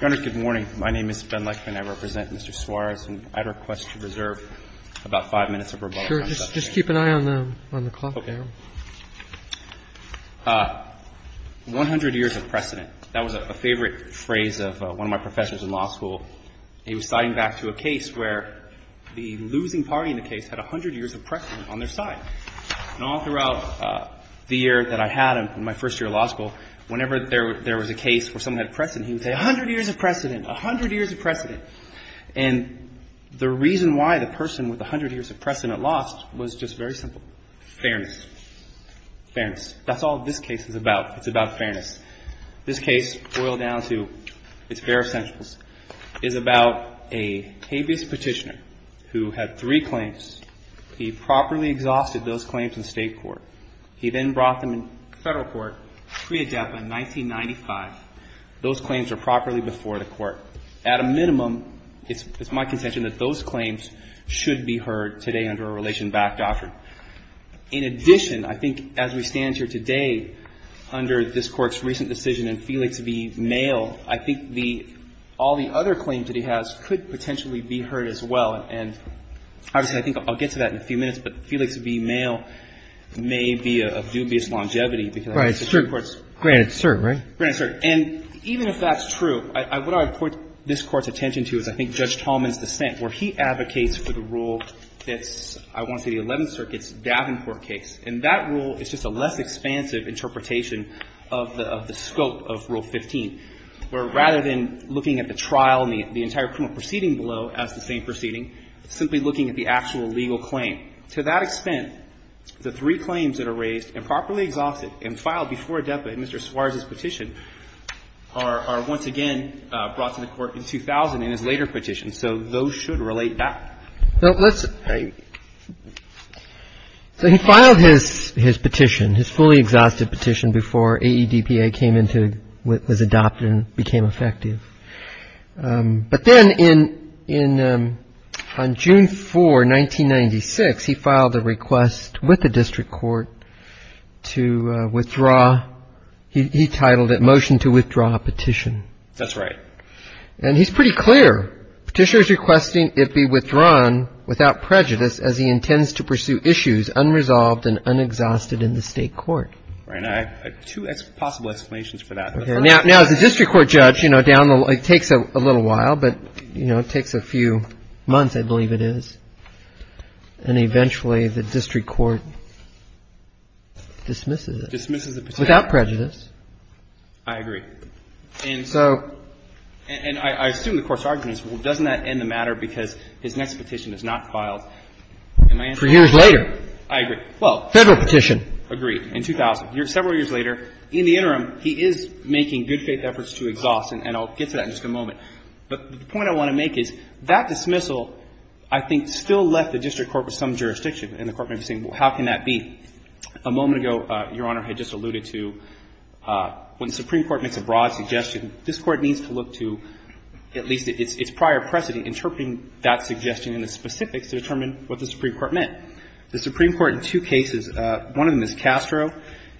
Good morning. My name is Ben Lechman. I represent Mr. Suarez. And I'd request to reserve about five minutes of rebuttal. Sure. Just keep an eye on the clock there. Okay. One hundred years of precedent. That was a favorite phrase of one of my professors in law school. He was citing back to a case where the losing party in the case had a hundred years of precedent on their side. And all throughout the year that I had in my first year of law school, whenever there was a case where someone had a precedent, he would say, a hundred years of precedent. A hundred years of precedent. And the reason why the person with a hundred years of precedent lost was just very simple. Fairness. Fairness. That's all this case is about. It's about fairness. This case boiled down to its bare essentials. It's about a habeas petitioner who had three claims. He properly exhausted those claims in state court. He then brought them in federal court preadapted in 1995. Those claims are properly before the court. At a minimum, it's my contention that those claims should be heard today under a relation-backed doctrine. In addition, I think as we stand here today under this Court's recent decision in Felix v. Male, I think the — all the other claims that he has could potentially be heard as well. And obviously, I think I'll get to that in a few minutes, but Felix v. Male may be of dubious longevity because the Supreme Court's — Right. It's granted cert, right? Granted cert. And even if that's true, what I would point this Court's attention to is I think Judge Tolman's dissent, where he advocates for the rule that's, I want to say, the Eleventh Circuit's Davenport case. And that rule is just a less expansive interpretation of the scope of Rule 15, where rather than looking at the trial and the entire criminal proceeding below as the same proceeding, simply looking at the actual legal claim. To that extent, the three claims that are raised, improperly exhausted, and filed before a deputant, Mr. Suarez's petition, are once again brought to the Court in 2000 in his later petition. So those should relate back. So let's — Right. So he filed his petition, his fully exhausted petition, before AEDPA came into — was adopted and became effective. But then in — on June 4, 1996, he filed a request with the district court to withdraw — he titled it Motion to Withdraw a Petition. That's right. And he's pretty clear. Petitioner's requesting it be withdrawn without prejudice as he intends to pursue issues unresolved and unexhausted in the state court. Right. And I have two possible explanations for that. Okay. Now, as a district court judge, you know, down the — it takes a little while, but, you know, it takes a few months, I believe it is. And eventually the district court dismisses it. Dismisses the petition. Without prejudice. I agree. And so — And I assume the Court's argument is, well, doesn't that end the matter because his next petition is not filed? And my answer is — For years later. I agree. Well — Federal petition. Agreed. In 2000. Several years later. In the interim, he is making good-faith efforts to exhaust. And I'll get to that in just a moment. But the point I want to make is that dismissal, I think, still left the district court with some jurisdiction. And the Court may be saying, well, how can that be? A moment ago, Your Honor had just alluded to when the Supreme Court makes a broad suggestion, this Court needs to look to at least its prior precedent interpreting that suggestion in the specifics to determine what the Supreme Court meant. The Supreme Court in two cases, one of them is Castro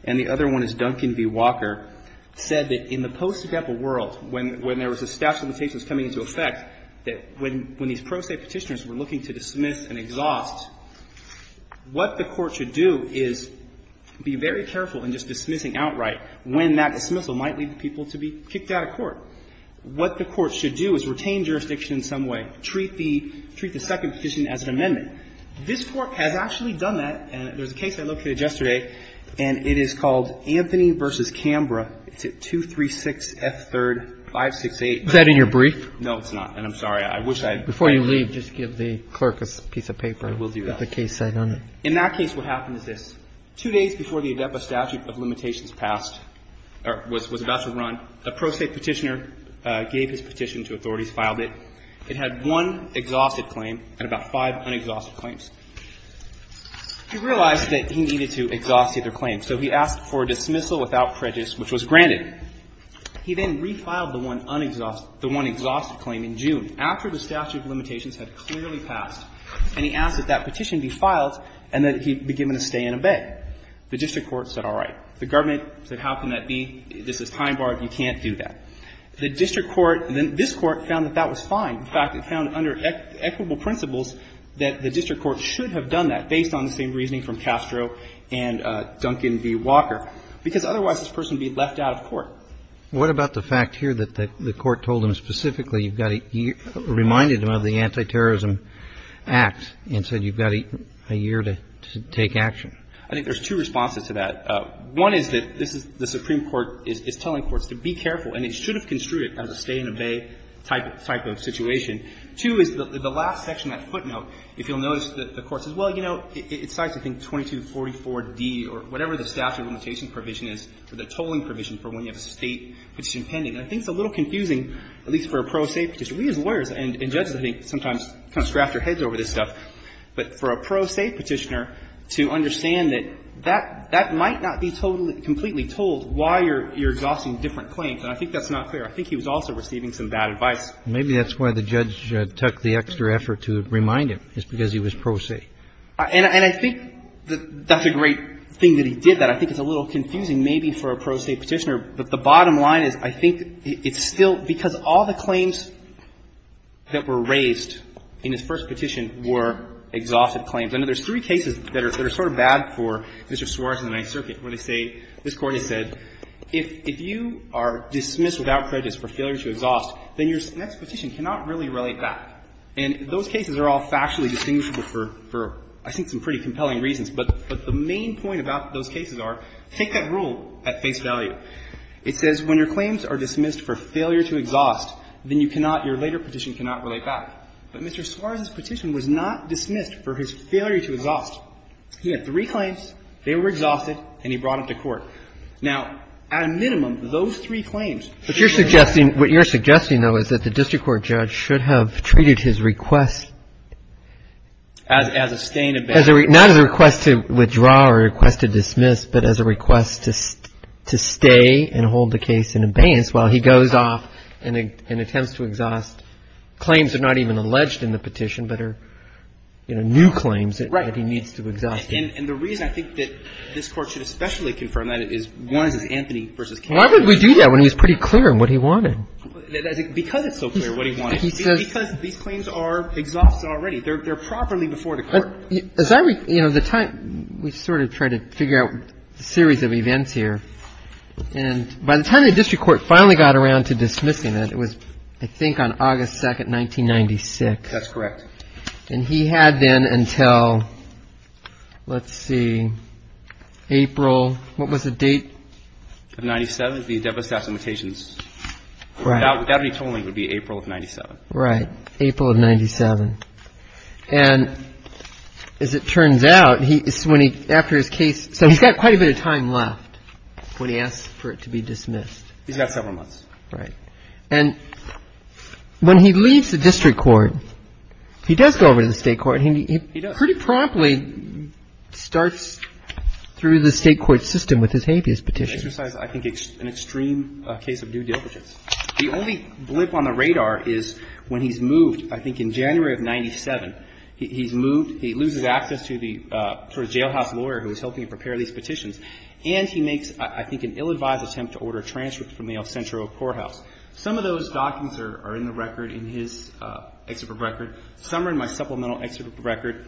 and the other one is Duncan v. Walker, said that in the post-debate world, when there was a statute of limitations coming into effect, that when these pro se petitioners were looking to dismiss and exhaust, what the Court should do is be very careful in just dismissing outright when that dismissal might lead people to be kicked out of court. What the Court should do is retain jurisdiction in some way, treat the second petition as an amendment. This Court has actually done that. And there's a case I looked at yesterday, and it is called Anthony v. Canberra. It's at 236F3-568. Roberts. Is that in your brief? No, it's not. And I'm sorry. I wish I had read it. Before you leave, just give the clerk a piece of paper. I will do that. With the case site on it. In that case, what happened is this. Two days before the ADEPA statute of limitations passed or was about to run, a pro se petitioner gave his petition to authorities, filed it. It had one exhausted claim and about five unexhausted claims. He realized that he needed to exhaust either claim, so he asked for a dismissal without prejudice, which was granted. He then refiled the one unexhausted claim in June, after the statute of limitations had clearly passed, and he asked that that petition be filed and that he be given a stay and abate. The district court said, all right. The government said, how can that be? This is time barred. You can't do that. The district court, this court, found that that was fine. In fact, it found under equitable principles that the district court should have done that based on the same reasoning from Castro and Duncan v. Walker, because otherwise this person would be left out of court. What about the fact here that the court told him specifically you've got a year, reminded him of the Antiterrorism Act and said you've got a year to take action? I think there's two responses to that. One is that this is the Supreme Court is telling courts to be careful, and it should have construed it as a stay and abate type of situation. Two is the last section, that footnote, if you'll notice, the court says, well, you know, it cites, I think, 2244d or whatever the statute of limitation provision is for the tolling provision for when you have a State petition pending. And I think it's a little confusing, at least for a pro se petitioner. We as lawyers and judges, I think, sometimes kind of scratch our heads over this And I think that's a great thing that he did that. I think it's a little confusing maybe for a pro se petitioner. But the bottom line is I think it's still because all the claims that were raised in his first petition were exhaustive claims. I know there's three cases that are sort of bad for Mr. Suarez and the Ninth Circuit. I think he was also receiving some bad advice. I think it's where they say, this Court has said, if you are dismissed without prejudice for failure to exhaust, then your next petition cannot really relate back. And those cases are all factually distinguishable for, I think, some pretty compelling reasons. But the main point about those cases are, take that rule at face value. It says when your claims are dismissed for failure to exhaust, then you cannot, your later petition cannot relate back. He had three claims, they were exhaustive, and he brought them to court. Now, at a minimum, those three claims But you're suggesting, what you're suggesting, though, is that the district court judge should have treated his request As a stay in abeyance Not as a request to withdraw or a request to dismiss, but as a request to stay and hold the case in abeyance while he goes off and attempts to exhaust Claims that are not even alleged in the petition, but are new claims Right. That he needs to exhaust. And the reason I think that this Court should especially confirm that is, one, is Anthony versus Kennedy Why would we do that when he was pretty clear on what he wanted? Because it's so clear what he wanted. He says Because these claims are exhaustive already. They're properly before the Court. As I, you know, the time, we sort of tried to figure out a series of events here. And by the time the district court finally got around to dismissing it, it was, I think, on August 2, 1996. That's correct. And he had then until, let's see, April, what was the date? Of 97, the Devastation Limitations. Right. That would be April of 97. Right. April of 97. And as it turns out, after his case, so he's got quite a bit of time left when he asks for it to be dismissed. He's got several months. Right. And when he leaves the district court, he does go over to the state court. He pretty promptly starts through the state court system with his habeas petition. He exercised, I think, an extreme case of due diligence. The only blip on the radar is when he's moved, I think, in January of 97. He's moved. He loses access to the sort of jailhouse lawyer who was helping him prepare these petitions. And he makes, I think, an ill-advised attempt to order a transfer from the El Centro courthouse. Some of those documents are in the record, in his excerpt of the record. Some are in my supplemental excerpt of the record.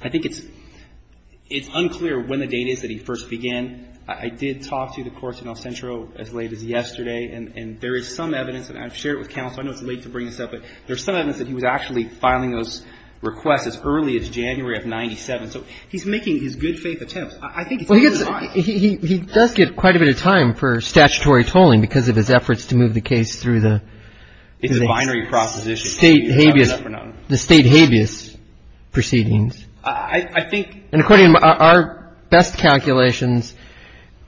I think it's unclear when the date is that he first began. I did talk to the courts in El Centro as late as yesterday, and there is some evidence, and I've shared it with counsel. I know it's late to bring this up, but there's some evidence that he was actually filing those requests as early as January of 97. So he's making his good-faith attempts. I think it's ill-advised. He does get quite a bit of time for statutory tolling because of his efforts to move the case through the state habeas proceedings. And according to our best calculations,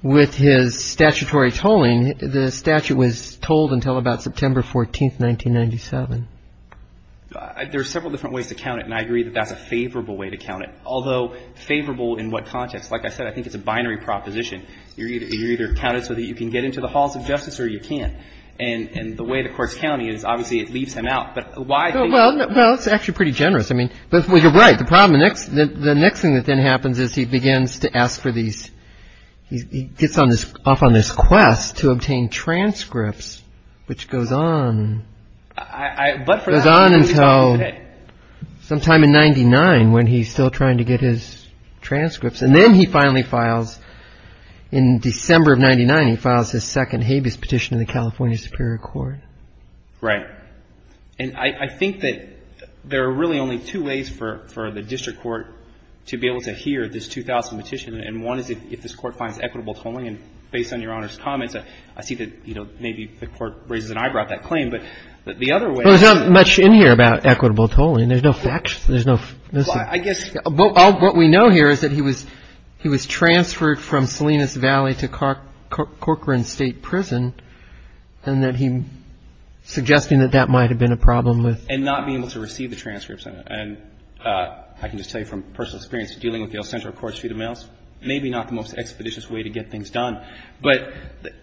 with his statutory tolling, the statute was tolled until about September 14, 1997. There are several different ways to count it, and I agree that that's a favorable way to count it. Although favorable in what context? Like I said, I think it's a binary proposition. You're either counted so that you can get into the halls of justice or you can't. And the way the courts count it is obviously it leaves him out. But why? Well, it's actually pretty generous. I mean, well, you're right. The problem, the next thing that then happens is he begins to ask for these, he gets off on this quest to obtain transcripts, which goes on. It goes on until sometime in 99 when he's still trying to get his transcripts. And then he finally files, in December of 99, he files his second habeas petition in the California Superior Court. Right. And I think that there are really only two ways for the district court to be able to hear this 2000 petition. And one is if this Court finds equitable tolling. And based on Your Honor's comments, I see that maybe the Court raises an eyebrow at that claim. But the other way. There's not much in here about equitable tolling. There's no facts. There's no. I guess what we know here is that he was he was transferred from Salinas Valley to Corcoran State Prison. And that he's suggesting that that might have been a problem with. And not being able to receive the transcripts. And I can just tell you from personal experience dealing with the El Centro Courts, maybe not the most expeditious way to get things done. But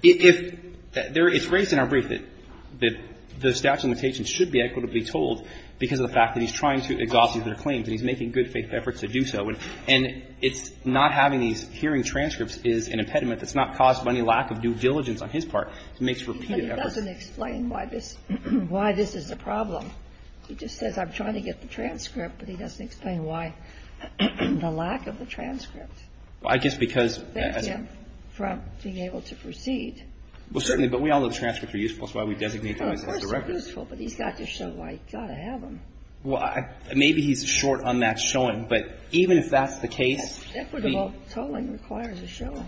it's raised in our brief that the statute of limitations should be equitably tolled because of the fact that he's trying to exalt these claims. And he's making good faith efforts to do so. And it's not having these hearing transcripts is an impediment that's not caused by any lack of due diligence on his part. It makes repeated efforts. But he doesn't explain why this is the problem. He just says I'm trying to get the transcript, but he doesn't explain why the lack of the transcripts. Well, I guess because. Thank him for being able to proceed. Well, certainly. But we all know the transcripts are useful. That's why we designate them as directives. The transcripts are useful, but he's got to show why he's got to have them. Well, maybe he's short on that showing. But even if that's the case. Equitable tolling requires a showing.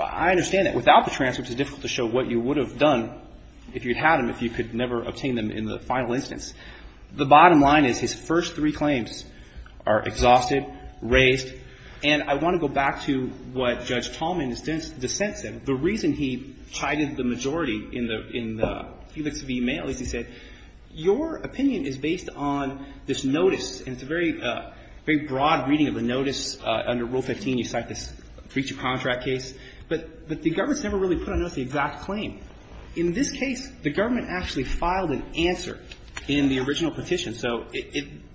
I understand that. Without the transcripts, it's difficult to show what you would have done if you had them, if you could never obtain them in the final instance. The bottom line is his first three claims are exhausted, raised. And I want to go back to what Judge Tallman's dissent said. The reason he chided the majority in the Felix v. May, at least he said, your opinion is based on this notice, and it's a very broad reading of the notice. Under Rule 15, you cite this breach of contract case. But the government's never really put on notice the exact claim. In this case, the government actually filed an answer in the original petition. So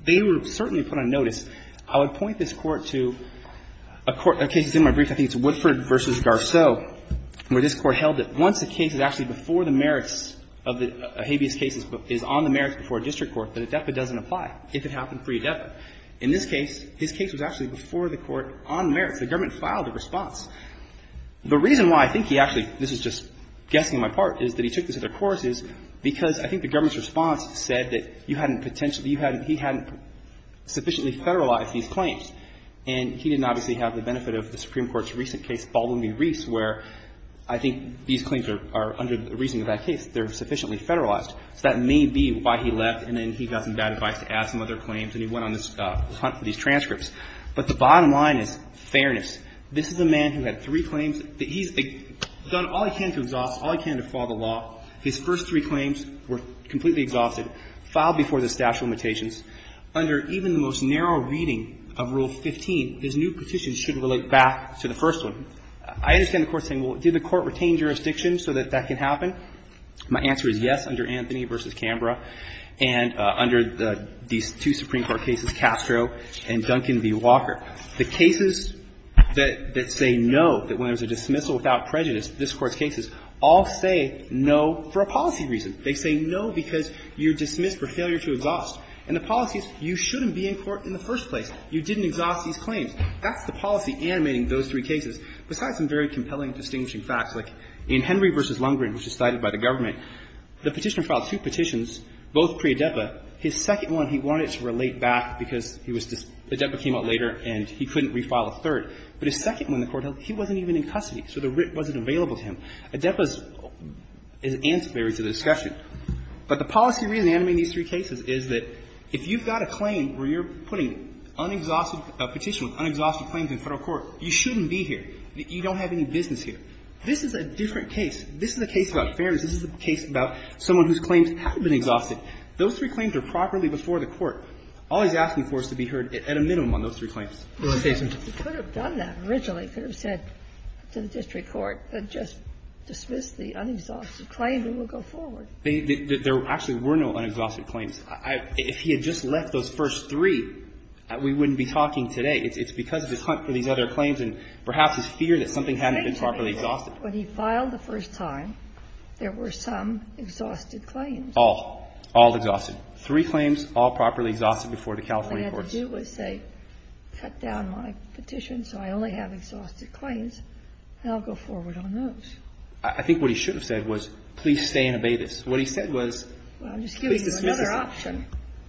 they were certainly put on notice. I would point this Court to a case that's in my brief. I think it's Woodford v. Garceau, where this Court held that once a case is actually before the merits of the habeas cases, is on the merits before a district court, that adepa doesn't apply, if it happened pre-adepa. In this case, his case was actually before the court on merits. The government filed a response. The reason why I think he actually, this is just guessing on my part, is that he took this as a course, is because I think the government's response said that you hadn't potentially, you hadn't, he hadn't sufficiently federalized these claims. And he didn't obviously have the benefit of the Supreme Court's recent case, Baldwin v. Reese, where I think these claims are, under the reasoning of that case, they're sufficiently federalized. So that may be why he left, and then he got some bad advice to add some other claims, and he went on this hunt for these transcripts. But the bottom line is fairness. This is a man who had three claims. He's done all he can to exhaust, all he can to follow the law. His first three claims were completely exhausted, filed before the statute of limitations. Under even the most narrow reading of Rule 15, his new petition should relate back to the first one. I understand the Court saying, well, did the Court retain jurisdiction so that that can happen? My answer is yes, under Anthony v. Canberra and under these two Supreme Court cases, Castro and Duncan v. Walker. The cases that say no, that when there's a dismissal without prejudice, this Court's going to say no for a policy reason. They say no because you're dismissed for failure to exhaust. And the policy is you shouldn't be in court in the first place. You didn't exhaust these claims. That's the policy animating those three cases. Besides some very compelling and distinguishing facts, like in Henry v. Lundgren, which is cited by the government, the Petitioner filed two petitions, both pre-Adepa. His second one, he wanted to relate back because he was – Adepa came out later and he couldn't refile a third. But his second one, the Court held, he wasn't even in custody, so the writ wasn't available to him. Adepa is ancillary to the discussion. But the policy reason animating these three cases is that if you've got a claim where you're putting unexhausted – a petition with unexhausted claims in Federal court, you shouldn't be here. You don't have any business here. This is a different case. This is a case about fairness. This is a case about someone whose claims have been exhausted. Those three claims are properly before the Court. All he's asking for is to be heard at a minimum on those three claims. He could have done that originally. He could have said to the district court, just dismiss the unexhausted claims and we'll go forward. There actually were no unexhausted claims. If he had just left those first three, we wouldn't be talking today. It's because of his hunt for these other claims and perhaps his fear that something hadn't been properly exhausted. When he filed the first time, there were some exhausted claims. All. All exhausted. Three claims, all properly exhausted before the California courts. What I would have had to do was say, cut down my petition so I only have exhausted claims, and I'll go forward on those. I think what he should have said was, please stay and obey this. What he said was, please dismiss it. Well, I'm just giving you another option.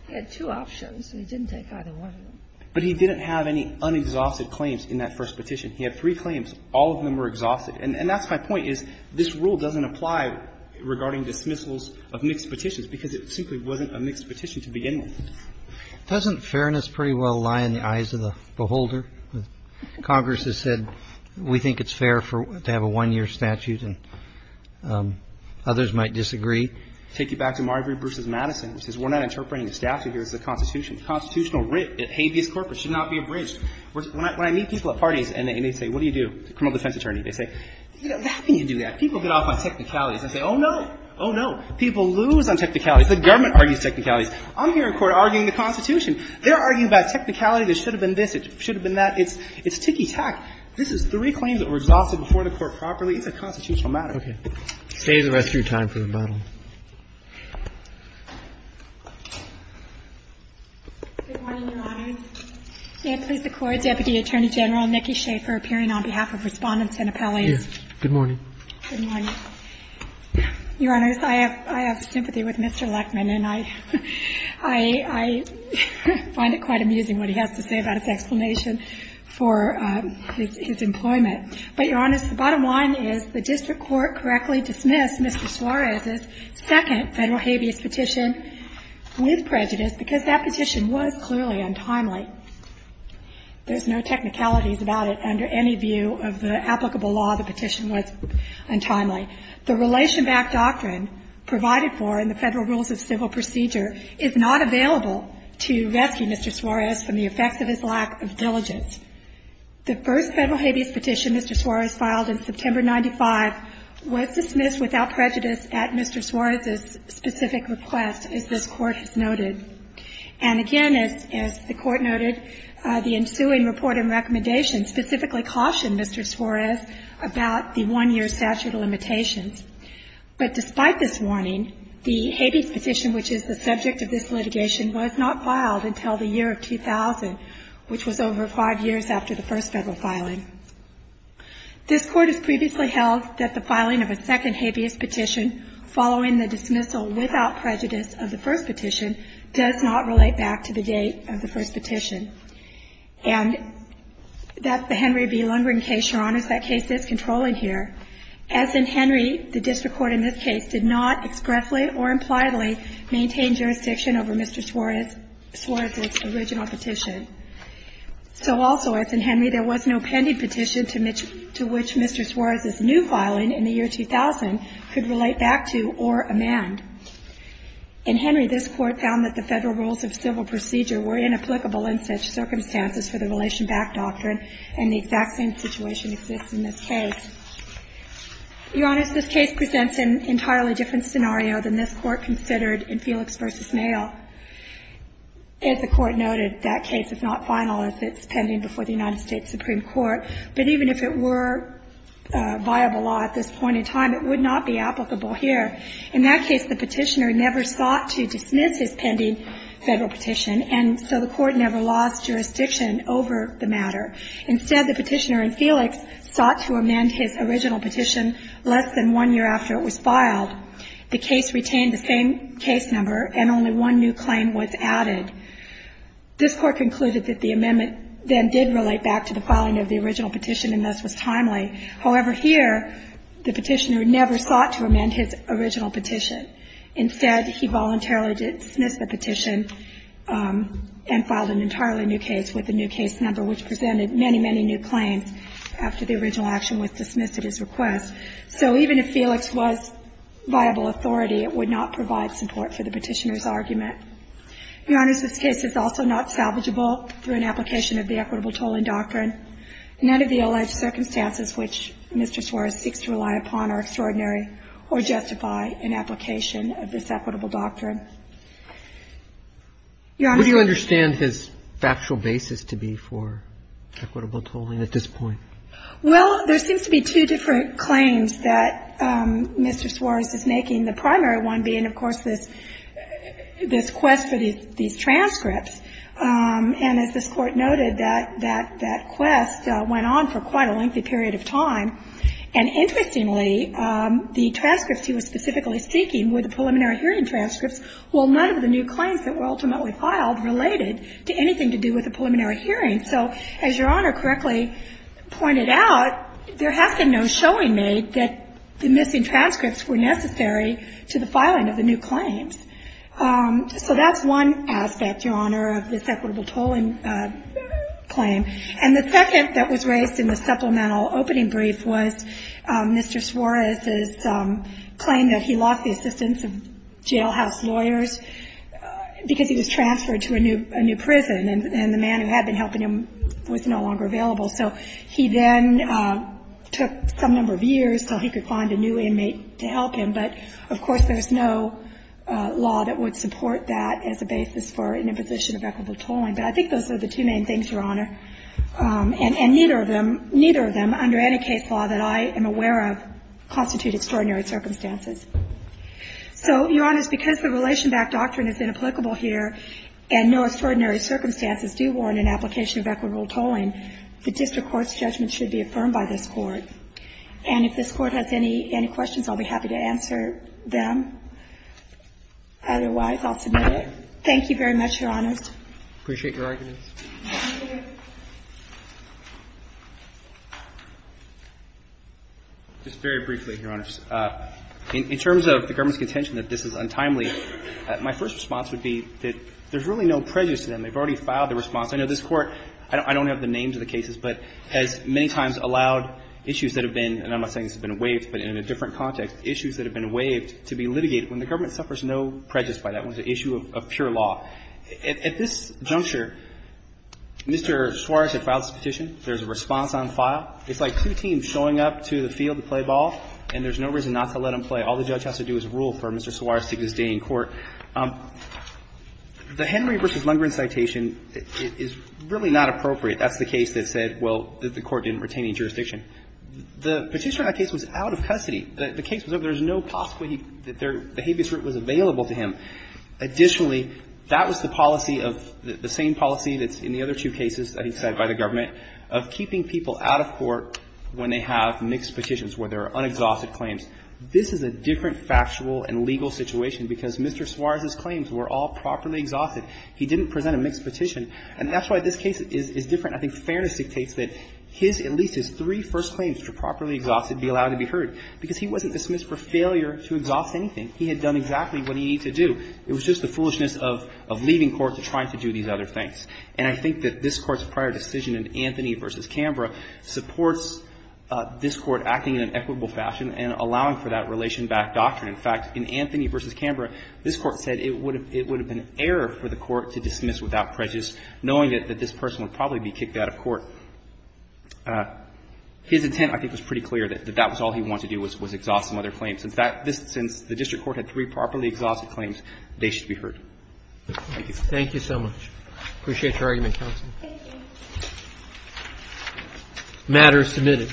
He had two options. He didn't take either one of them. But he didn't have any unexhausted claims in that first petition. He had three claims. All of them were exhausted. And that's my point, is this rule doesn't apply regarding dismissals of mixed petitions because it simply wasn't a mixed petition to begin with. Doesn't fairness pretty well lie in the eyes of the beholder? Congress has said we think it's fair to have a one-year statute, and others might disagree. Take you back to Marbury v. Madison. It says we're not interpreting the statute here as the Constitution. The Constitutional writ, habeas corpus, should not be abridged. When I meet people at parties and they say, what do you do? Criminal defense attorney. They say, how can you do that? People get off on technicalities. I say, oh, no. Oh, no. People lose on technicalities. The government argues technicalities. I'm here in court arguing the Constitution. They're arguing about technicalities. It should have been this. It should have been that. It's ticky-tack. This is three claims that were exhausted before the Court properly. It's a constitutional matter. Roberts. Stay the rest of your time for the model. Good morning, Your Honor. May it please the Court, Deputy Attorney General Nikki Schafer appearing on behalf of Respondents and Appellees. Yes. Good morning. Good morning. Your Honor, I have sympathy with Mr. Leckman, and I find it quite amusing what he has to say about his explanation for his employment. But, Your Honor, the bottom line is the district court correctly dismissed Mr. Suarez's second Federal habeas petition with prejudice because that petition was clearly untimely. There's no technicalities about it under any view of the applicable law. The petition was untimely. The relation-backed doctrine provided for in the Federal Rules of Civil Procedure is not available to rescue Mr. Suarez from the effects of his lack of diligence. The first Federal habeas petition Mr. Suarez filed in September 1995 was dismissed without prejudice at Mr. Suarez's specific request, as this Court has noted. And again, as the Court noted, the ensuing report and recommendation specifically cautioned Mr. Suarez about the one-year statute of limitations. But despite this warning, the habeas petition, which is the subject of this litigation, was not filed until the year 2000, which was over five years after the first Federal filing. This Court has previously held that the filing of a second habeas petition following the dismissal without prejudice of the first petition does not relate back to the date of the first petition. And that's the Henry v. Lundgren case, Your Honors. That case is controlling here. As in Henry, the district court in this case did not expressly or impliedly maintain jurisdiction over Mr. Suarez's original petition. So also, as in Henry, there was no pending petition to which Mr. Suarez's new filing in the year 2000 could relate back to or amend. In Henry, this Court found that the Federal Rules of Civil Procedure were inapplicable in such circumstances for the relation back doctrine, and the exact same situation exists in this case. Your Honors, this case presents an entirely different scenario than this Court considered in Felix v. Male. As the Court noted, that case is not final as it's pending before the United States Supreme Court. But even if it were viable law at this point in time, it would not be applicable here. In that case, the petitioner never sought to dismiss his pending Federal petition, and so the Court never lost jurisdiction over the matter. Instead, the petitioner in Felix sought to amend his original petition less than one year after it was filed. The case retained the same case number, and only one new claim was added. This Court concluded that the amendment then did relate back to the filing of the original petition, and thus was timely. However, here, the petitioner never sought to amend his original petition. Instead, he voluntarily dismissed the petition and filed an entirely new case with a new case number, which presented many, many new claims after the original action was dismissed at his request. So even if Felix was viable authority, it would not provide support for the petitioner's argument. Your Honors, this case is also not salvageable through an application of the equitable tolling doctrine. None of the alleged circumstances which Mr. Suarez seeks to rely upon are extraordinary or justify an application of this equitable doctrine. Your Honors? What do you understand his factual basis to be for equitable tolling at this point? Well, there seems to be two different claims that Mr. Suarez is making, the primary one being, of course, this quest for these transcripts. And as this Court noted, that quest went on for quite a lengthy period of time. And interestingly, the transcripts he was specifically seeking were the preliminary hearing transcripts, while none of the new claims that were ultimately filed related to anything to do with the preliminary hearing. So as Your Honor correctly pointed out, there has been no showing made that the missing transcripts were necessary to the filing of the new claims. So that's one aspect, Your Honor, of this equitable tolling claim. And the second that was raised in the supplemental opening brief was Mr. Suarez's claim that he lost the assistance of jailhouse lawyers because he was transferred to a new prison, and the man who had been helping him was no longer available. So he then took some number of years until he could find a new inmate to help him. But, of course, there's no law that would support that as a basis for an imposition of equitable tolling. But I think those are the two main things, Your Honor. And neither of them, neither of them under any case law that I am aware of constitute extraordinary circumstances. So, Your Honor, because the relation-back doctrine has been applicable here and no extraordinary circumstances do warrant an application of equitable tolling, the district court's judgment should be affirmed by this Court. And if this Court has any questions, I'll be happy to answer them. Otherwise, I'll submit it. Thank you very much, Your Honors. I appreciate your arguments. Just very briefly, Your Honors. In terms of the government's contention that this is untimely, my first response would be that there's really no prejudice to them. They've already filed their response. I know this Court, I don't have the names of the cases, but has many times allowed issues that have been, and I'm not saying this has been waived, but in a different context, issues that have been waived to be litigated when the government suffers no prejudice by that. It was an issue of pure law. At this juncture, Mr. Suarez had filed his petition. There's a response on file. It's like two teams showing up to the field to play ball, and there's no reason not to let them play. All the judge has to do is rule for Mr. Suarez to stay in court. The Henry v. Lundgren citation is really not appropriate. That's the case that said, well, the Court didn't retain any jurisdiction. The petitioner in that case was out of custody. The case was over. There's no possibility that the habeas root was available to him. Additionally, that was the policy of the same policy that's in the other two cases that he cited by the government of keeping people out of court when they have mixed petitions, where there are unexhausted claims. This is a different factual and legal situation because Mr. Suarez's claims were all properly exhausted. He didn't present a mixed petition, and that's why this case is different. I think fairness dictates that his, at least his three first claims were properly heard, because he wasn't dismissed for failure to exhaust anything. He had done exactly what he needed to do. It was just the foolishness of leaving court to try to do these other things. And I think that this Court's prior decision in Anthony v. Canberra supports this Court acting in an equitable fashion and allowing for that relation-backed doctrine. In fact, in Anthony v. Canberra, this Court said it would have been an error for the Court to dismiss without prejudice, knowing that this person would probably be kicked out of court. So his intent, I think, was pretty clear, that that was all he wanted to do was exhaust some other claims. In fact, since the district court had three properly exhausted claims, they should be heard. Thank you. Thank you so much. I appreciate your argument, counsel. Thank you. The matter is submitted.